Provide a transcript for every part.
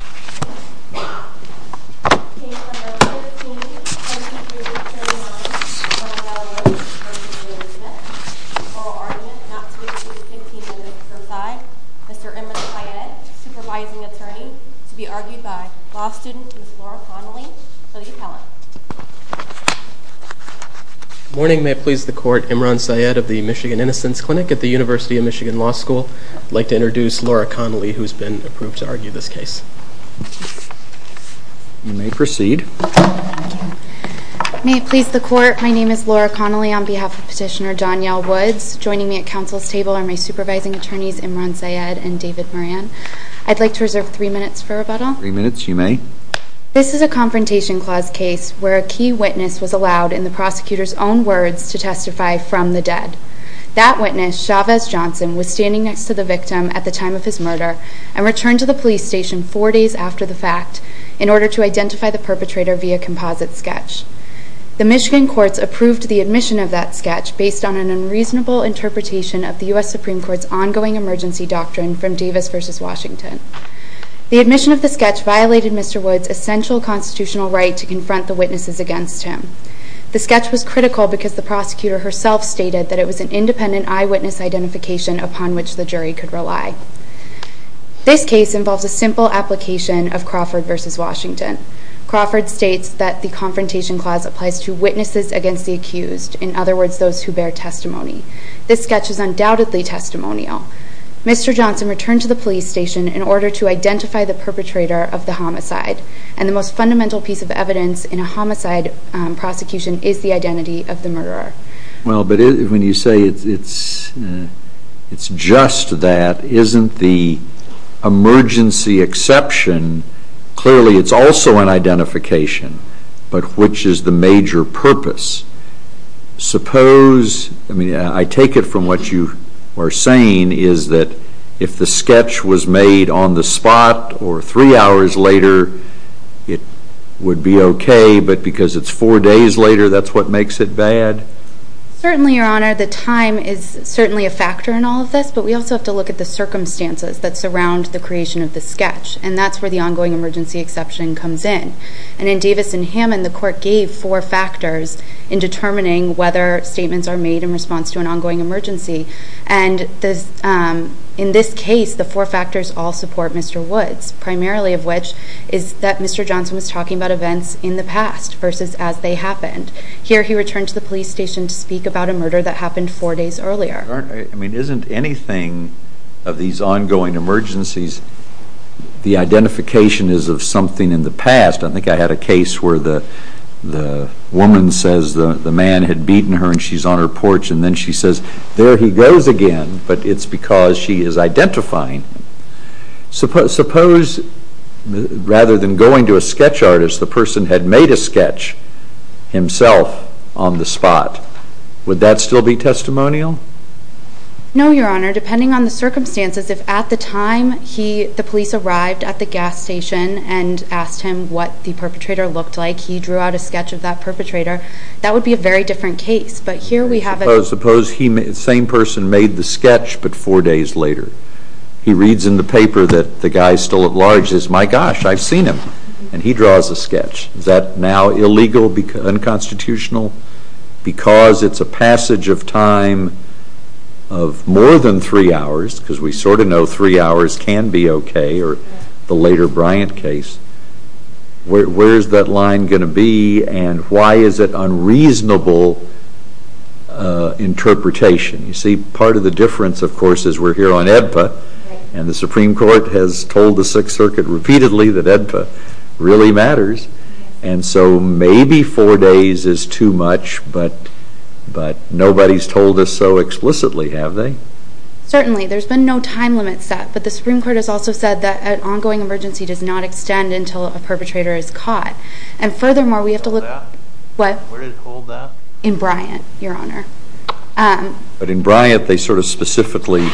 Oral argument not to be pursued 15 minutes per side. Mr. Imran Syed, supervising attorney, to be argued by law student Ms. Laura Connelly for the appellant. Morning. May it please the court, Imran Syed of the Michigan Innocence Clinic at the University of Michigan Law School. I'd like to introduce Laura Connelly who's been approved to argue this case. You may proceed. May it please the court, my name is Laura Connelly on behalf of petitioner Donyelle Woods. Joining me at council's table are my supervising attorneys Imran Syed and David Moran. I'd like to reserve three minutes for rebuttal. Three minutes, you may. This is a Confrontation Clause case where a key witness was allowed in the prosecutor's own words to testify from the dead. That witness, Chavez Johnson, was standing next to the victim at the time of his murder and returned to the police station four days after the fact in order to identify the perpetrator via composite sketch. The Michigan courts approved the admission of that sketch based on an unreasonable interpretation of the U.S. Supreme Court's ongoing emergency doctrine from Davis v. Washington. The admission of the sketch violated Mr. Woods' essential constitutional right to confront the witnesses against him. The sketch was critical because the prosecutor herself stated that it was an independent eyewitness identification upon which the jury could rely. This case involves a simple application of Crawford v. Washington. Crawford states that the Confrontation Clause applies to witnesses against the accused, in other words, those who bear testimony. This sketch is undoubtedly testimonial. Mr. Johnson returned to the police station in order to identify the perpetrator of the homicide, and the most fundamental piece of evidence in a homicide prosecution is the identity of the murderer. Well, but when you say it's just that, isn't the emergency exception clearly it's also an identification, but which is the major purpose? Suppose, I mean, I take it from what you are saying is that if the sketch was made on the spot or three hours later, it would be okay, but because it's four days later, that's what makes it bad? Certainly, Your Honor, the time is certainly a factor in all of this, but we also have to look at the circumstances that surround the creation of the sketch, and that's where the ongoing emergency exception comes in. And in Davis v. Hammond, the Court gave four factors in determining whether statements are made in response to an ongoing emergency, and in this case, the four factors all support Mr. Woods, primarily of which is that Mr. Johnson was talking about events in the past versus as they happened. Here, he returned to the police station to speak about a murder that happened four days earlier. Your Honor, I mean, isn't anything of these ongoing emergencies, the identification is of something in the past? I think I had a case where the woman says the man had beaten her and she's on her porch, and then she says, there he goes again, but it's because she is identifying him. Suppose rather than going to a sketch artist, the person had made a sketch himself on the spot. Would that still be testimonial? No, Your Honor. Depending on the circumstances, if at the time the police arrived at the gas station and asked him what the perpetrator looked like, he drew out a sketch of that perpetrator, that would be a very different case. Suppose the same person made the sketch, but four days later. He reads in the paper that the guy is still at large. He says, my gosh, I've seen him, and he draws a sketch. Is that now illegal, unconstitutional? Because it's a passage of time of more than three hours, because we sort of know three hours can be okay, or the later Bryant case, where is that line going to be and why is it unreasonable interpretation? You see, part of the difference, of course, is we're here on AEDPA, and the Supreme Court has told the Sixth Circuit repeatedly that AEDPA really matters, and so maybe four days is too much, but nobody's told us so explicitly, have they? Certainly. There's been no time limit set, but the Supreme Court has also said that an ongoing emergency does not extend until a perpetrator is caught. And furthermore, we have to look at what… Where did it hold that? In Bryant, Your Honor. But in Bryant, they sort of specifically,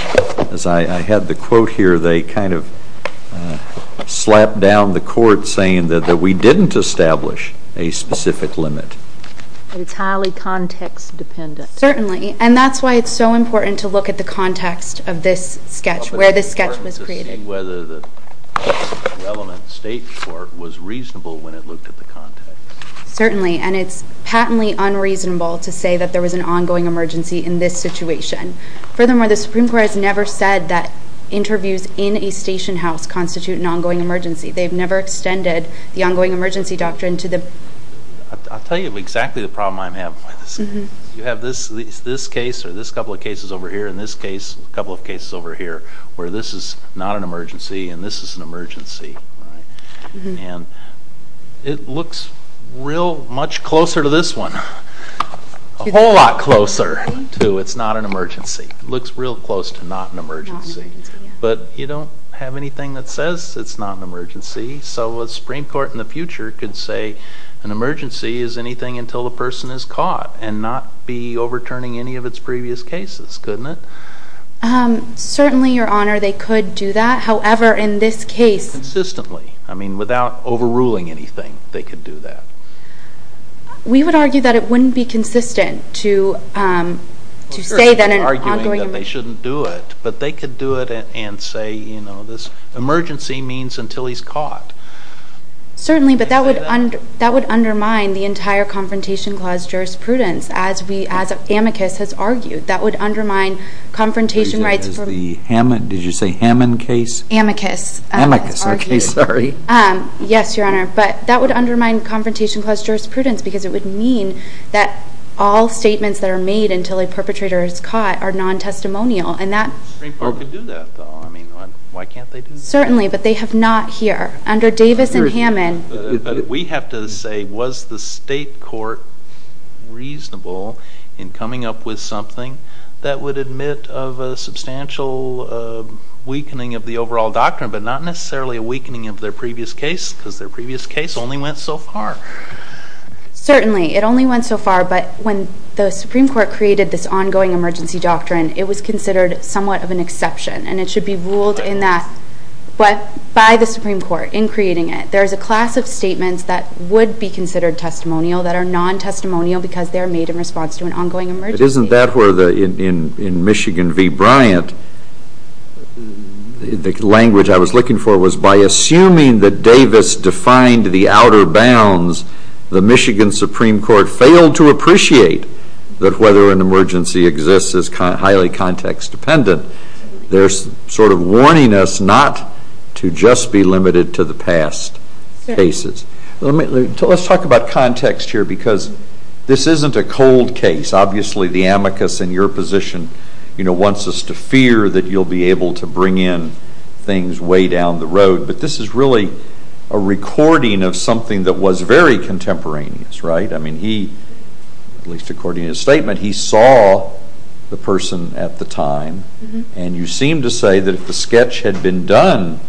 as I had the quote here, they kind of slapped down the court saying that we didn't establish a specific limit. It's highly context dependent. Certainly, and that's why it's so important to look at the context of this sketch, where this sketch was created. It's important to see whether the relevant state court was reasonable when it looked at the context. Certainly, and it's patently unreasonable to say that there was an ongoing emergency in this situation. Furthermore, the Supreme Court has never said that interviews in a station house constitute an ongoing emergency. They've never extended the ongoing emergency doctrine to the… I'll tell you exactly the problem I'm having with this. You have this case or this couple of cases over here and this case, a couple of cases over here, where this is not an emergency and this is an emergency. And it looks real much closer to this one, a whole lot closer to it's not an emergency. It looks real close to not an emergency. But you don't have anything that says it's not an emergency, so a Supreme Court in the future could say an emergency is anything until the person is caught and not be overturning any of its previous cases, couldn't it? Certainly, Your Honor, they could do that. However, in this case… Consistently. I mean, without overruling anything, they could do that. We would argue that it wouldn't be consistent to say that an ongoing emergency… We're certainly arguing that they shouldn't do it, but they could do it and say, you know, this emergency means until he's caught. Certainly, but that would undermine the entire Confrontation Clause jurisprudence, as we, as amicus has argued. That would undermine confrontation rights for… Did you say Hammond case? Amicus. Amicus, okay, sorry. Yes, Your Honor, but that would undermine Confrontation Clause jurisprudence because it would mean that all statements that are made until a perpetrator is caught are non-testimonial. And that… The Supreme Court could do that, though. I mean, why can't they do that? Certainly, but they have not here. Under Davis and Hammond… We have to say, was the state court reasonable in coming up with something that would admit of a substantial weakening of the overall doctrine, but not necessarily a weakening of their previous case because their previous case only went so far? Certainly, it only went so far, but when the Supreme Court created this ongoing emergency doctrine, it was considered somewhat of an exception, and it should be ruled by the Supreme Court in creating it. There is a class of statements that would be considered testimonial that are non-testimonial because they are made in response to an ongoing emergency. But isn't that where, in Michigan v. Bryant, the language I was looking for was by assuming that Davis defined the outer bounds, the Michigan Supreme Court failed to appreciate that whether an emergency exists is highly context-dependent. They're sort of warning us not to just be limited to the past cases. Let's talk about context here because this isn't a cold case. Obviously, the amicus in your position wants us to fear that you'll be able to bring in things way down the road, but this is really a recording of something that was very contemporaneous, right? I mean, he, at least according to his statement, he saw the person at the time, and you seem to say that if the sketch had been done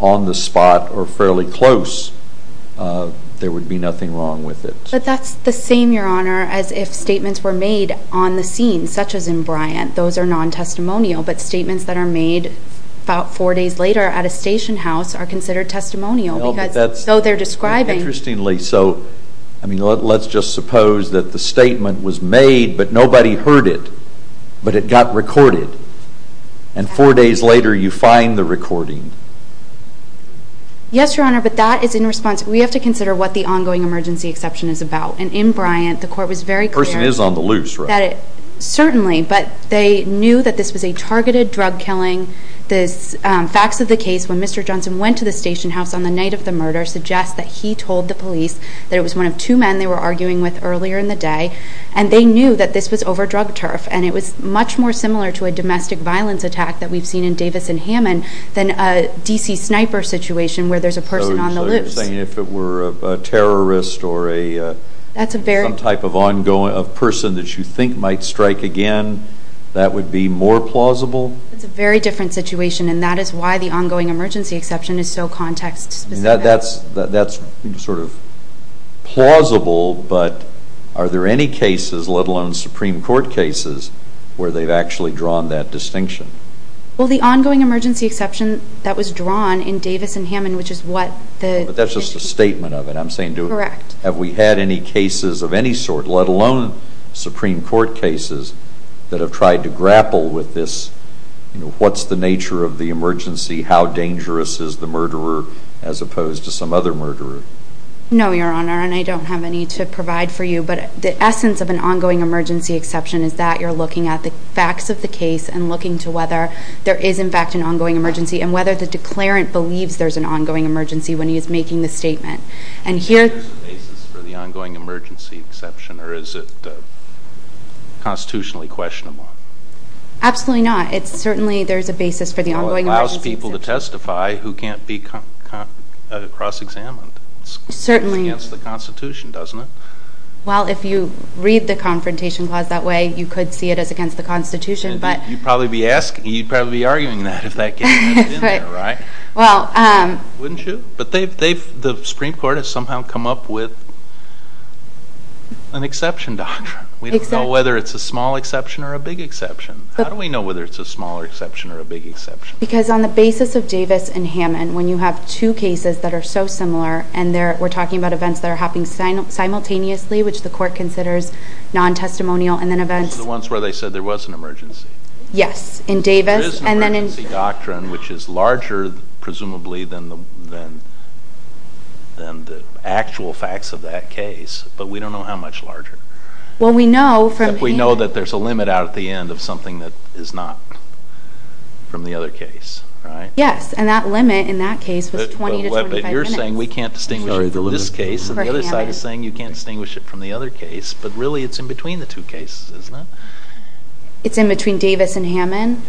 on the spot or fairly close, there would be nothing wrong with it. But that's the same, Your Honor, as if statements were made on the scene, such as in Bryant. Those are non-testimonial, but statements that are made about four days later at a station house are considered testimonial because so they're describing. Interestingly, so let's just suppose that the statement was made, but nobody heard it, but it got recorded, and four days later you find the recording. Yes, Your Honor, but that is in response. We have to consider what the ongoing emergency exception is about. And in Bryant, the court was very clear. The person is on the loose, right? Certainly, but they knew that this was a targeted drug killing. The facts of the case when Mr. Johnson went to the station house on the night of the murder suggest that he told the police that it was one of two men they were arguing with earlier in the day, and they knew that this was over drug turf, and it was much more similar to a domestic violence attack that we've seen in Davis and Hammond than a D.C. sniper situation where there's a person on the loose. So you're saying if it were a terrorist or some type of person that you think might strike again, that would be more plausible? It's a very different situation, and that is why the ongoing emergency exception is so context specific. That's sort of plausible, but are there any cases, let alone Supreme Court cases, where they've actually drawn that distinction? Well, the ongoing emergency exception that was drawn in Davis and Hammond, which is what the... But that's just a statement of it. Correct. Have we had any cases of any sort, let alone Supreme Court cases, that have tried to grapple with this, you know, what's the nature of the emergency, how dangerous is the murderer as opposed to some other murderer? No, Your Honor, and I don't have any to provide for you. But the essence of an ongoing emergency exception is that you're looking at the facts of the case and looking to whether there is, in fact, an ongoing emergency and whether the declarant believes there's an ongoing emergency when he is making the statement. And here... Is there a basis for the ongoing emergency exception, or is it constitutionally questionable? Absolutely not. It's certainly there's a basis for the ongoing emergency exception. Well, it allows people to testify who can't be cross-examined. Certainly. It's against the Constitution, doesn't it? Well, if you read the Confrontation Clause that way, you could see it as against the Constitution, but... You'd probably be arguing that if that case hadn't been there, right? Well... Wouldn't you? But the Supreme Court has somehow come up with an exception doctrine. We don't know whether it's a small exception or a big exception. How do we know whether it's a small exception or a big exception? Because on the basis of Davis and Hammond, when you have two cases that are so similar, and we're talking about events that are happening simultaneously, which the Court considers non-testimonial, and then events... The ones where they said there was an emergency. Yes, in Davis and then in... There is an emergency doctrine, which is larger, presumably, than the actual facts of that case, but we don't know how much larger. Well, we know from... The end of something that is not from the other case, right? Yes, and that limit in that case was 20 to 25 minutes. But you're saying we can't distinguish it from this case, and the other side is saying you can't distinguish it from the other case, but really it's in between the two cases, isn't it? It's in between Davis and Hammond.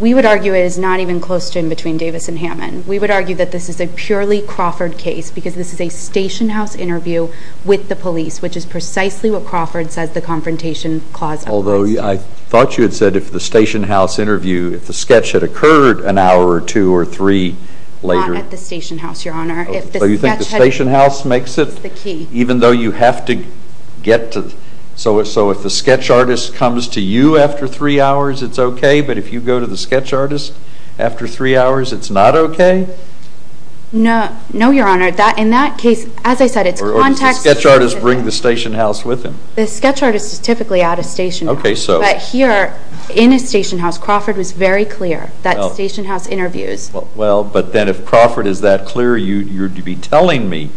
We would argue it is not even close to in between Davis and Hammond. We would argue that this is a purely Crawford case because this is a station house interview with the police, which is precisely what Crawford says the Confrontation Clause... Although I thought you had said if the station house interview, if the sketch had occurred an hour or two or three later... Not at the station house, Your Honor. So you think the station house makes it... That's the key. Even though you have to get to... So if the sketch artist comes to you after three hours, it's okay, but if you go to the sketch artist after three hours, it's not okay? No, Your Honor. In that case, as I said, it's context... Or does the sketch artist bring the station house with him? The sketch artist is typically at a station house. But here, in a station house, Crawford was very clear that station house interviews... Well, but then if Crawford is that clear, you'd be telling me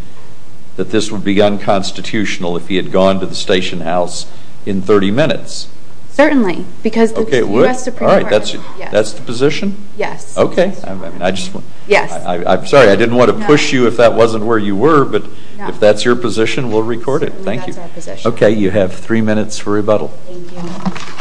that this would be unconstitutional if he had gone to the station house in 30 minutes. Certainly, because the U.S. Supreme Court... All right, that's the position? Yes. Okay. I'm sorry, I didn't want to push you if that wasn't where you were, but if that's your position, we'll record it. Certainly, that's our position. Okay, you have three minutes for rebuttal. Thank you.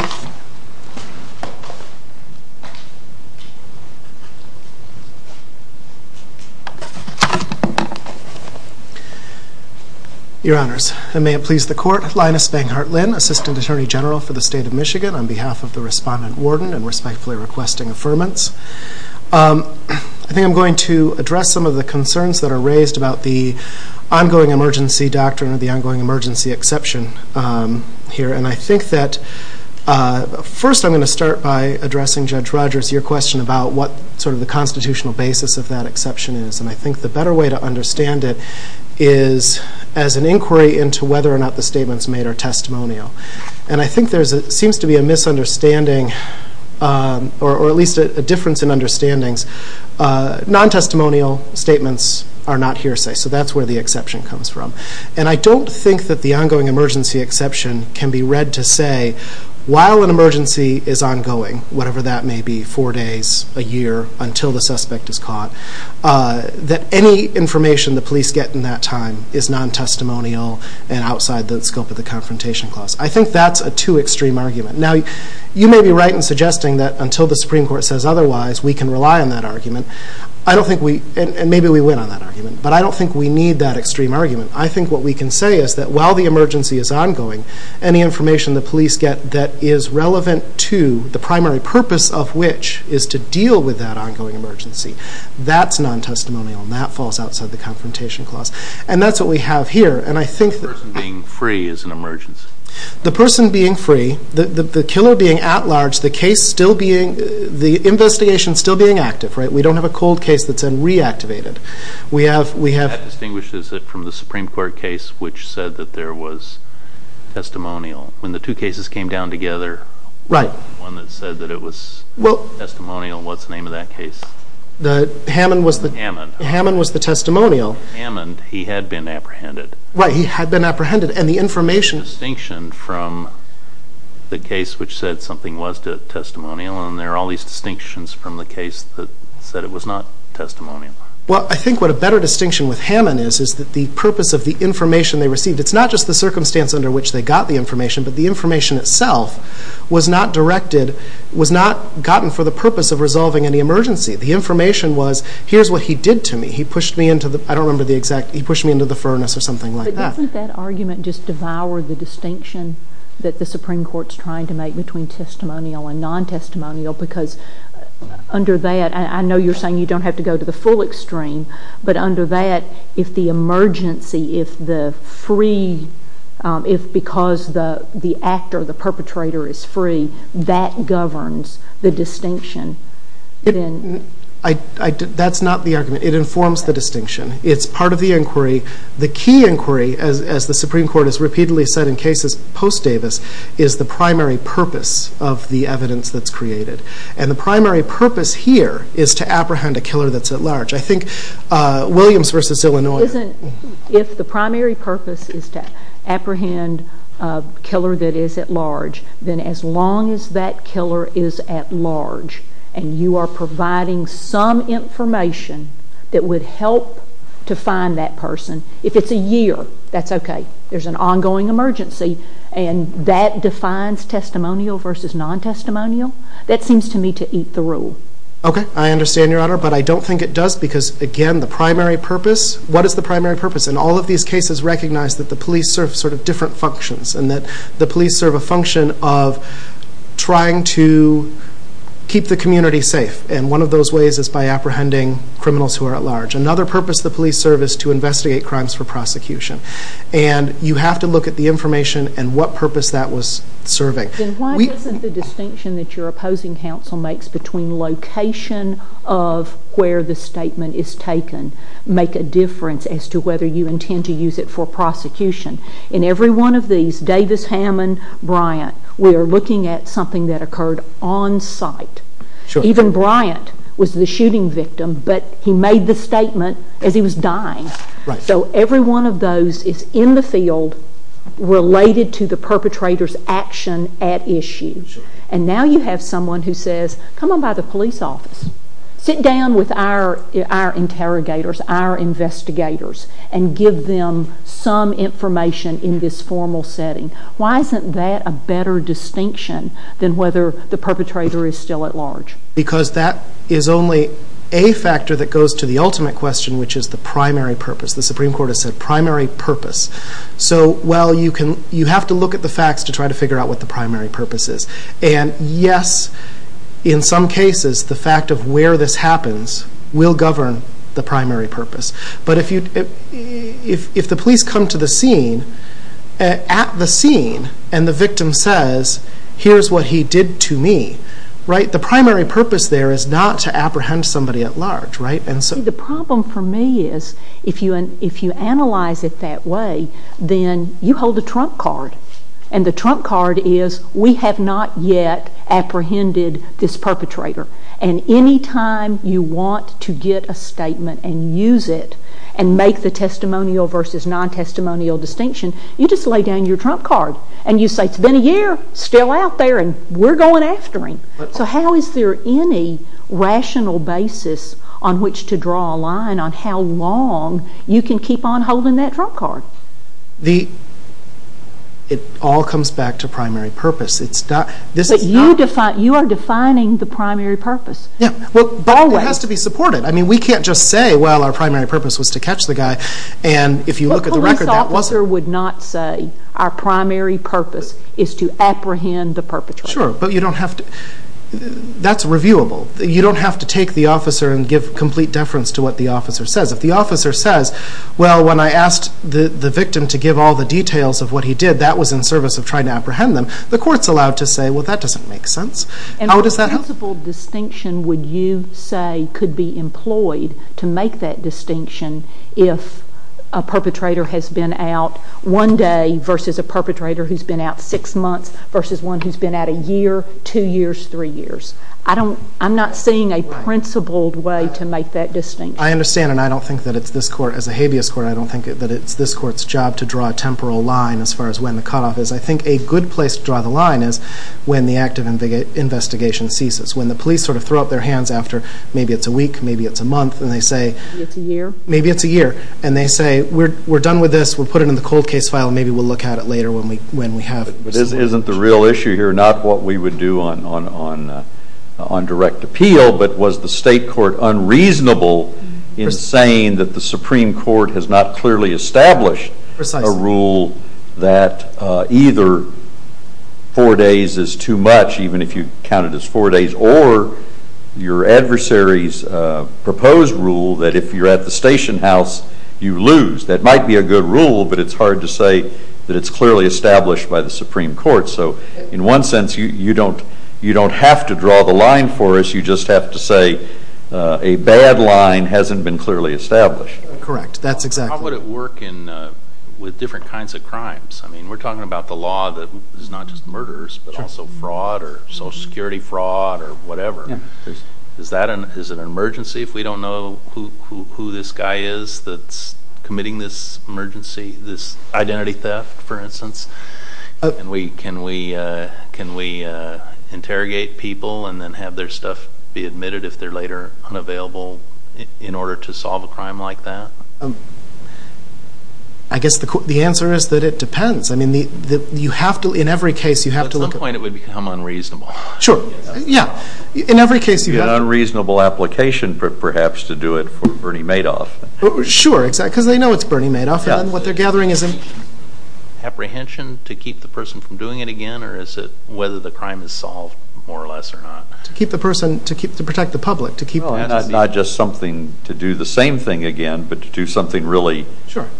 Your Honors, and may it please the Court, Linus Banghart Lynn, Assistant Attorney General for the State of Michigan, on behalf of the Respondent, Warden, and respectfully requesting affirmance. I think I'm going to address some of the concerns that are raised about the ongoing emergency doctrine or the ongoing emergency exception here. And I think that first I'm going to start by addressing, Judge Rogers, your question about what sort of the constitutional basis of that exception is. And I think the better way to understand it is as an inquiry into whether or not the statements made are testimonial. And I think there seems to be a misunderstanding, or at least a difference in understandings. Non-testimonial statements are not hearsay, so that's where the exception comes from. And I don't think that the ongoing emergency exception can be read to say, while an emergency is ongoing, whatever that may be, four days, a year, until the suspect is caught, that any information the police get in that time is non-testimonial and outside the scope of the Confrontation Clause. I think that's a too extreme argument. Now, you may be right in suggesting that until the Supreme Court says otherwise, we can rely on that argument. And maybe we win on that argument. But I don't think we need that extreme argument. I think what we can say is that while the emergency is ongoing, any information the police get that is relevant to the primary purpose of which is to deal with that ongoing emergency, that's non-testimonial and that falls outside the Confrontation Clause. And that's what we have here. The person being free is an emergency. The person being free, the killer being at large, the investigation still being active. We don't have a cold case that's been reactivated. That distinguishes it from the Supreme Court case which said that there was testimonial. When the two cases came down together, the one that said that it was testimonial, what's the name of that case? Hammond was the testimonial. Hammond, he had been apprehended. Right, he had been apprehended. There's a distinction from the case which said something was testimonial and there are all these distinctions from the case that said it was not testimonial. Well, I think what a better distinction with Hammond is is that the purpose of the information they received, it's not just the circumstance under which they got the information, but the information itself was not directed, was not gotten for the purpose of resolving any emergency. The information was, here's what he did to me. He pushed me into the furnace or something like that. But doesn't that argument just devour the distinction that the Supreme Court's trying to make between testimonial and non-testimonial because under that, I know you're saying you don't have to go to the full extreme, but under that, if the emergency, if the free, if because the actor, the perpetrator is free, that governs the distinction. That's not the argument. It informs the distinction. It's part of the inquiry. The key inquiry, as the Supreme Court has repeatedly said in cases post-Davis, is the primary purpose of the evidence that's created. And the primary purpose here is to apprehend a killer that's at large. I think Williams versus Illinois. If the primary purpose is to apprehend a killer that is at large, then as long as that killer is at large and you are providing some information that would help to find that person, if it's a year, that's okay. There's an ongoing emergency, and that defines testimonial versus non-testimonial. That seems to me to eat the rule. Okay. I understand, Your Honor. But I don't think it does because, again, the primary purpose, what is the primary purpose? And all of these cases recognize that the police serve sort of different functions and that the police serve a function of trying to keep the community safe. And one of those ways is by apprehending criminals who are at large. Another purpose the police serve is to investigate crimes for prosecution. And you have to look at the information and what purpose that was serving. Then why doesn't the distinction that your opposing counsel makes between location of where the statement is taken make a difference as to whether you intend to use it for prosecution? In every one of these, Davis, Hammond, Bryant, we are looking at something that occurred on site. Even Bryant was the shooting victim, but he made the statement as he was dying. So every one of those is in the field related to the perpetrator's action at issue. And now you have someone who says, come on by the police office, sit down with our interrogators, our investigators, and give them some information in this formal setting. Why isn't that a better distinction than whether the perpetrator is still at large? Because that is only a factor that goes to the ultimate question, which is the primary purpose. The Supreme Court has said primary purpose. So, well, you have to look at the facts to try to figure out what the primary purpose is. And, yes, in some cases, the fact of where this happens will govern the primary purpose. But if the police come to the scene, at the scene, and the victim says, here's what he did to me, right? The primary purpose there is not to apprehend somebody at large, right? The problem for me is if you analyze it that way, then you hold a trump card. And the trump card is we have not yet apprehended this perpetrator. And any time you want to get a statement and use it and make the testimonial versus non-testimonial distinction, you just lay down your trump card. And you say, it's been a year, still out there, and we're going after him. So how is there any rational basis on which to draw a line on how long you can keep on holding that trump card? It all comes back to primary purpose. But you are defining the primary purpose. It has to be supported. We can't just say, well, our primary purpose was to catch the guy. But a police officer would not say, our primary purpose is to apprehend the perpetrator. Sure, but you don't have to. That's reviewable. You don't have to take the officer and give complete deference to what the officer says. If the officer says, well, when I asked the victim to give all the details of what he did, that was in service of trying to apprehend them, the court's allowed to say, well, that doesn't make sense. And a principled distinction, would you say, could be employed to make that distinction if a perpetrator has been out one day versus a perpetrator who's been out six months versus one who's been out a year, two years, three years? I'm not seeing a principled way to make that distinction. I understand, and I don't think that it's this court, as a habeas court, I don't think that it's this court's job to draw a temporal line as far as when the cutoff is. I think a good place to draw the line is when the active investigation ceases, when the police sort of throw up their hands after, maybe it's a week, maybe it's a month, and they say... Maybe it's a year. Maybe it's a year. And they say, we're done with this, we'll put it in the cold case file, and maybe we'll look at it later when we have it. But isn't the real issue here not what we would do on direct appeal, but was the state court unreasonable in saying that the Supreme Court has not clearly established a rule that either four days is too much, even if you count it as four days, or your adversary's proposed rule that if you're at the station house, you lose. That might be a good rule, but it's hard to say that it's clearly established by the Supreme Court. So in one sense, you don't have to draw the line for us, you just have to say a bad line hasn't been clearly established. Correct. That's exactly it. How would it work with different kinds of crimes? I mean, we're talking about the law that is not just murderers, but also fraud or Social Security fraud or whatever. Is it an emergency if we don't know who this guy is that's committing this emergency, this identity theft, for instance? Can we interrogate people and then have their stuff be admitted if they're later unavailable in order to solve a crime like that? I guess the answer is that it depends. I mean, in every case you have to look at— At some point it would become unreasonable. Sure. Yeah. In every case you have— It would be an unreasonable application, perhaps, to do it for Bernie Madoff. Sure, because they know it's Bernie Madoff and what they're gathering is— Is it apprehension to keep the person from doing it again or is it whether the crime is solved more or less or not? To keep the person—to protect the public. Not just something to do the same thing again, but to do something really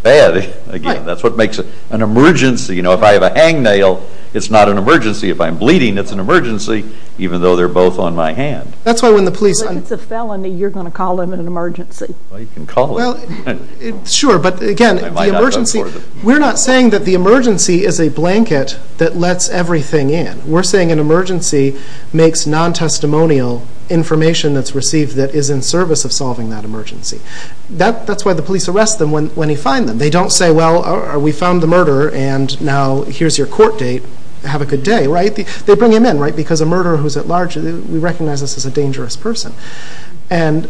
bad again. That's what makes it an emergency. If I have a hangnail, it's not an emergency. If I'm bleeding, it's an emergency, even though they're both on my hand. That's why when the police— If it's a felony, you're going to call them an emergency. You can call them. Sure, but again, the emergency— We're not saying that the emergency is a blanket that lets everything in. We're saying an emergency makes non-testimonial information that's received that is in service of solving that emergency. That's why the police arrest them when they find them. They don't say, well, we found the murderer and now here's your court date. Have a good day, right? They bring him in because a murderer who's at large— We recognize this as a dangerous person. Is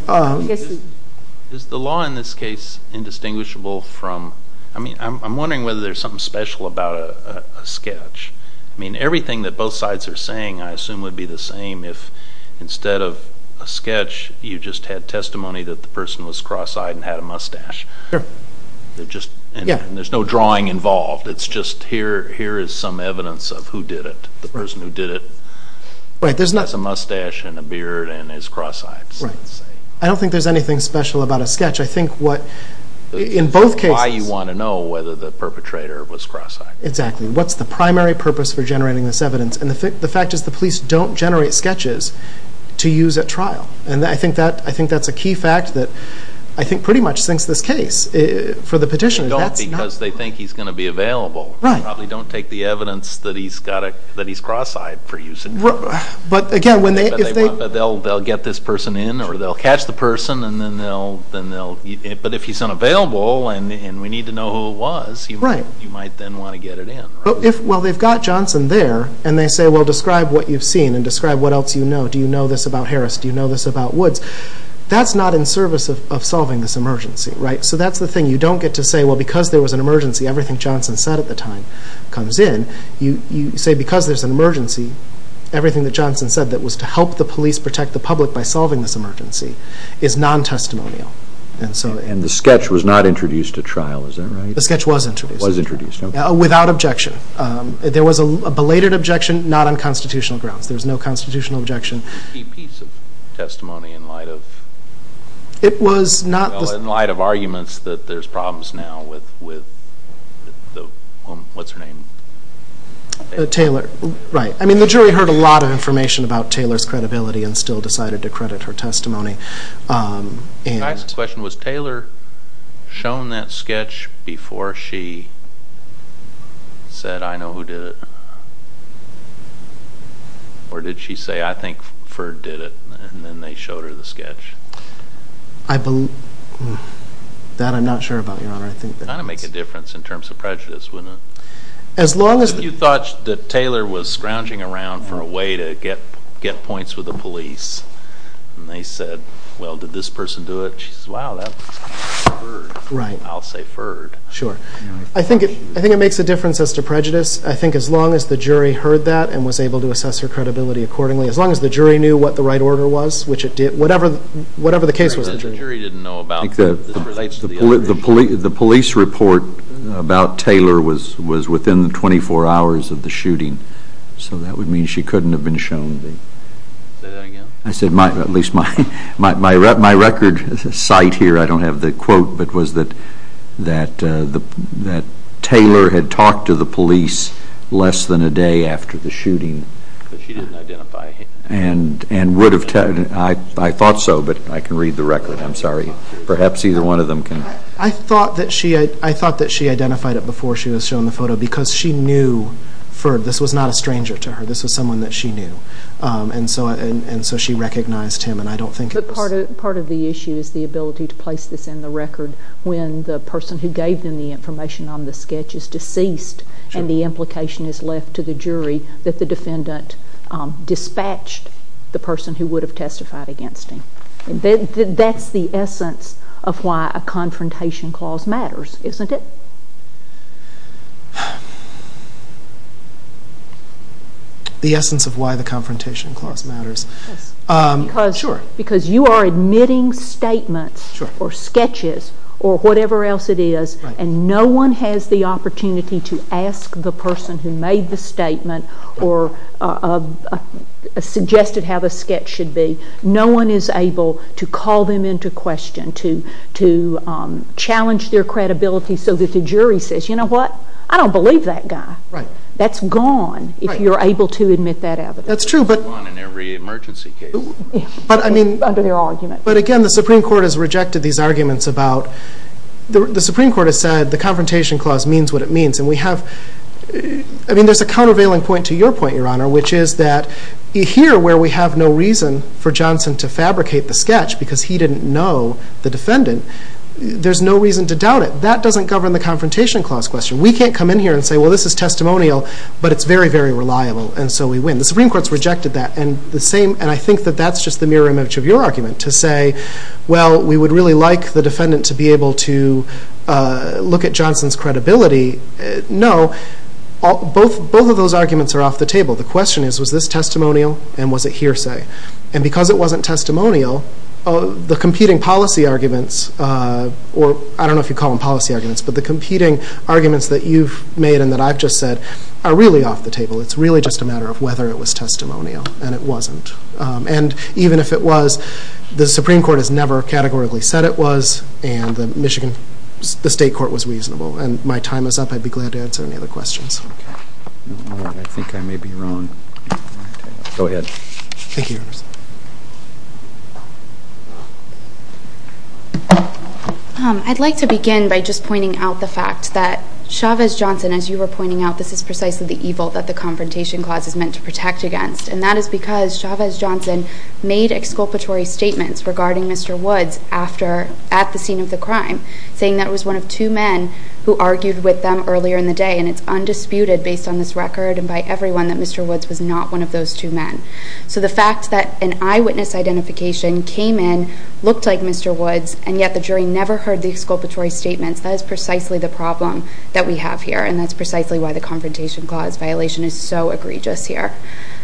the law in this case indistinguishable from— I'm wondering whether there's something special about a sketch. I mean, everything that both sides are saying, I assume, would be the same if instead of a sketch, you just had testimony that the person was cross-eyed and had a mustache. Sure. And there's no drawing involved. It's just here is some evidence of who did it, the person who did it. Right, there's not— Has a mustache and a beard and is cross-eyed, so to say. Right. I don't think there's anything special about a sketch. I think what—in both cases— Why you want to know whether the perpetrator was cross-eyed. Exactly. What's the primary purpose for generating this evidence? And the fact is the police don't generate sketches to use at trial. And I think that's a key fact that I think pretty much sinks this case for the petitioners. They don't because they think he's going to be available. They probably don't take the evidence that he's cross-eyed for use in court. But again, when they— They'll get this person in or they'll catch the person and then they'll— But if he's unavailable and we need to know who it was, you might then want to get it in. Well, they've got Johnson there and they say, well, describe what you've seen and describe what else you know. Do you know this about Harris? Do you know this about Woods? That's not in service of solving this emergency, right? So that's the thing. You don't get to say, well, because there was an emergency, everything Johnson said at the time comes in. You say because there's an emergency, everything that Johnson said that was to help the police protect the public by solving this emergency is non-testimonial. And the sketch was not introduced at trial, is that right? The sketch was introduced. Was introduced, okay. Without objection. There was a belated objection, not on constitutional grounds. There was no constitutional objection. A key piece of testimony in light of— It was not— In light of arguments that there's problems now with the—what's her name? Taylor, right. I mean, the jury heard a lot of information about Taylor's credibility and still decided to credit her testimony. Can I ask a question? Was Taylor shown that sketch before she said, I know who did it? Or did she say, I think Ferd did it, and then they showed her the sketch? I believe—that I'm not sure about, Your Honor. It would kind of make a difference in terms of prejudice, wouldn't it? As long as— If you thought that Taylor was scrounging around for a way to get points with the police and they said, well, did this person do it? She says, wow, that was Ferd. Right. I'll say Ferd. Sure. I think it makes a difference as to prejudice. I think as long as the jury heard that and was able to assess her credibility accordingly, as long as the jury knew what the right order was, which it did—whatever the case was. The jury didn't know about— The police report about Taylor was within the 24 hours of the shooting, so that would mean she couldn't have been shown the— Say that again. I said my—at least my record site here, I don't have the quote, but was that Taylor had talked to the police less than a day after the shooting. But she didn't identify him. And would have—I thought so, but I can read the record. I'm sorry. Perhaps either one of them can. I thought that she identified it before she was shown the photo because she knew Ferd. This was not a stranger to her. This was someone that she knew. And so she recognized him, and I don't think it was— But part of the issue is the ability to place this in the record when the person who gave them the information on the sketch is deceased and the implication is left to the jury that the defendant dispatched the person who would have testified against him. That's the essence of why a confrontation clause matters, isn't it? The essence of why the confrontation clause matters. Because you are admitting statements or sketches or whatever else it is, and no one has the opportunity to ask the person who made the statement or suggested how the sketch should be. No one is able to call them into question, to challenge their credibility so that the jury says, you know what, I don't believe that guy. That's gone if you're able to admit that evidence. That's true, but— It's gone in every emergency case. Under their argument. But again, the Supreme Court has rejected these arguments about— the Supreme Court has said the confrontation clause means what it means, and we have—I mean, there's a countervailing point to your point, Your Honor, which is that here where we have no reason for Johnson to fabricate the sketch because he didn't know the defendant, there's no reason to doubt it. That doesn't govern the confrontation clause question. We can't come in here and say, well, this is testimonial, but it's very, very reliable, and so we win. The Supreme Court's rejected that, and the same— and I think that that's just the mirror image of your argument to say, well, we would really like the defendant to be able to look at Johnson's credibility. No, both of those arguments are off the table. The question is, was this testimonial, and was it hearsay? And because it wasn't testimonial, the competing policy arguments— or I don't know if you call them policy arguments, but the competing arguments that you've made and that I've just said are really off the table. It's really just a matter of whether it was testimonial, and it wasn't. And even if it was, the Supreme Court has never categorically said it was, and the Michigan—the State Court was reasonable. And my time is up. I'd be glad to answer any other questions. I think I may be wrong. Go ahead. Thank you, Your Honor. I'd like to begin by just pointing out the fact that Chavez Johnson, as you were pointing out, this is precisely the evil that the Confrontation Clause is meant to protect against, and that is because Chavez Johnson made exculpatory statements regarding Mr. Woods at the scene of the crime, saying that it was one of two men who argued with them earlier in the day, and it's undisputed, based on this record and by everyone, that Mr. Woods was not one of those two men. So the fact that an eyewitness identification came in, looked like Mr. Woods, and yet the jury never heard the exculpatory statements, that is precisely the problem that we have here, and that's precisely why the Confrontation Clause violation is so egregious here.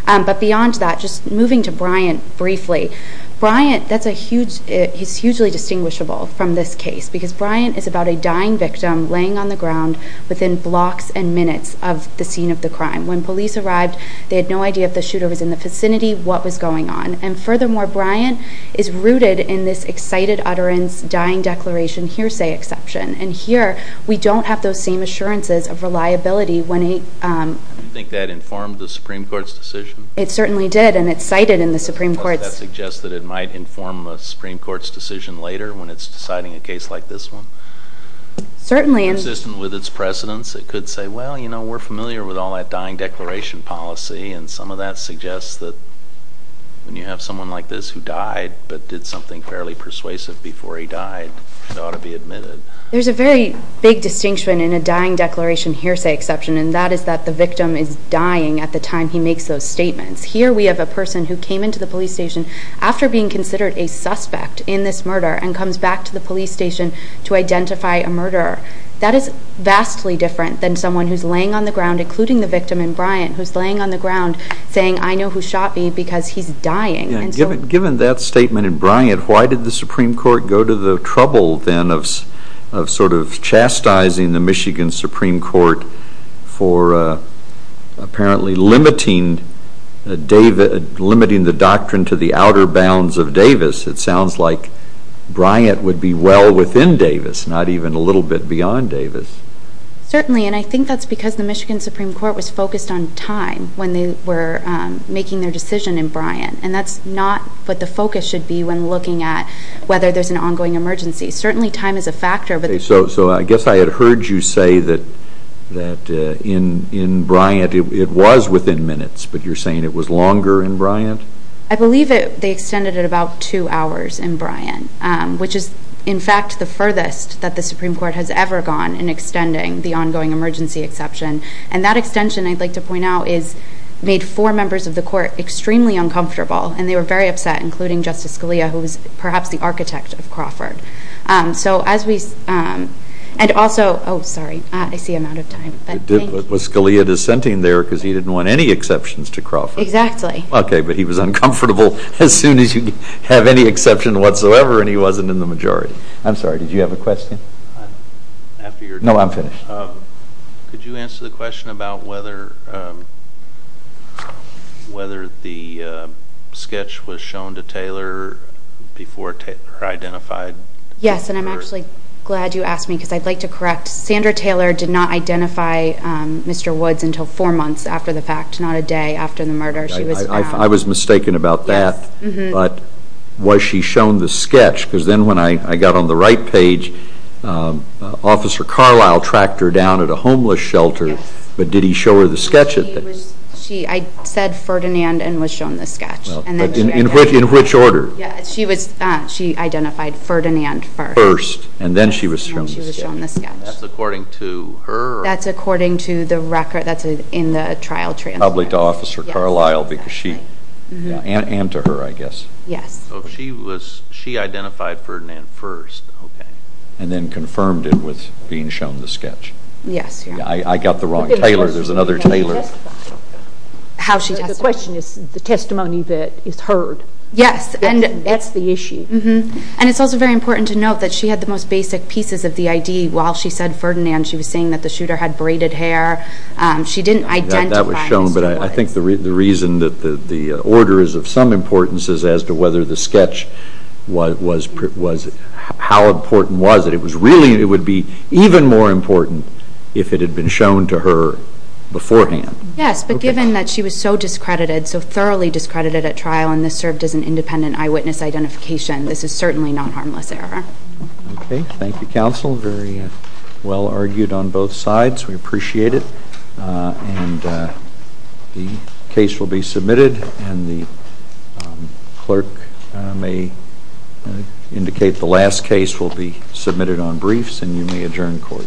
But beyond that, just moving to Bryant briefly, Bryant, that's a huge—he's hugely distinguishable from this case because Bryant is about a dying victim laying on the ground within blocks and minutes of the scene of the crime. When police arrived, they had no idea if the shooter was in the vicinity, what was going on. And furthermore, Bryant is rooted in this excited utterance, dying declaration, hearsay exception. And here, we don't have those same assurances of reliability when he— Do you think that informed the Supreme Court's decision? It certainly did, and it's cited in the Supreme Court's— Does that suggest that it might inform a Supreme Court's decision later when it's deciding a case like this one? Certainly. Consistent with its precedents, it could say, well, you know, we're familiar with all that dying declaration policy, and some of that suggests that when you have someone like this who died but did something fairly persuasive before he died, it ought to be admitted. There's a very big distinction in a dying declaration hearsay exception, and that is that the victim is dying at the time he makes those statements. Here we have a person who came into the police station after being considered a suspect in this murder and comes back to the police station to identify a murderer. That is vastly different than someone who's laying on the ground, including the victim in Bryant, who's laying on the ground saying, I know who shot me because he's dying. Given that statement in Bryant, why did the Supreme Court go to the trouble then of sort of chastising the Michigan Supreme Court for apparently limiting the doctrine to the outer bounds of Davis? It sounds like Bryant would be well within Davis, not even a little bit beyond Davis. Certainly, and I think that's because the Michigan Supreme Court was focused on time when they were making their decision in Bryant, and that's not what the focus should be when looking at whether there's an ongoing emergency. Certainly time is a factor. So I guess I had heard you say that in Bryant it was within minutes, but you're saying it was longer in Bryant? I believe they extended it about two hours in Bryant, which is in fact the furthest that the Supreme Court has ever gone in extending the ongoing emergency exception, and that extension, I'd like to point out, made four members of the court extremely uncomfortable, and they were very upset, including Justice Scalia, who was perhaps the architect of Crawford. Oh, sorry, I see I'm out of time. Was Scalia dissenting there because he didn't want any exceptions to Crawford? Exactly. Okay, but he was uncomfortable as soon as you have any exception whatsoever, and he wasn't in the majority. I'm sorry, did you have a question? No, I'm finished. Could you answer the question about whether the sketch was shown to Taylor before Taylor identified? Yes, and I'm actually glad you asked me because I'd like to correct. Sandra Taylor did not identify Mr. Woods until four months after the fact, not a day after the murder. I was mistaken about that, but was she shown the sketch? Because then when I got on the right page, Officer Carlisle tracked her down at a homeless shelter, but did he show her the sketch at this? I said Ferdinand and was shown the sketch. In which order? She identified Ferdinand first. First, and then she was shown the sketch. And she was shown the sketch. That's according to her? That's according to the record that's in the trial transcript. Probably to Officer Carlisle and to her, I guess. Yes. She identified Ferdinand first, okay, and then confirmed it with being shown the sketch. Yes. I got the wrong Taylor. There's another Taylor. The question is the testimony that is heard. Yes, and that's the issue. And it's also very important to note that she had the most basic pieces of the ID while she said Ferdinand. She was saying that the shooter had braided hair. She didn't identify Mr. Woods. That was shown, but I think the reason that the order is of some importance is as to whether the sketch was, how important was it? It was really, it would be even more important if it had been shown to her beforehand. Yes, but given that she was so discredited, so thoroughly discredited at trial, and this served as an independent eyewitness identification, this is certainly not harmless error. Okay. Thank you, counsel. Very well argued on both sides. We appreciate it. And the case will be submitted, and the clerk may indicate the last case will be submitted on briefs, and you may adjourn court.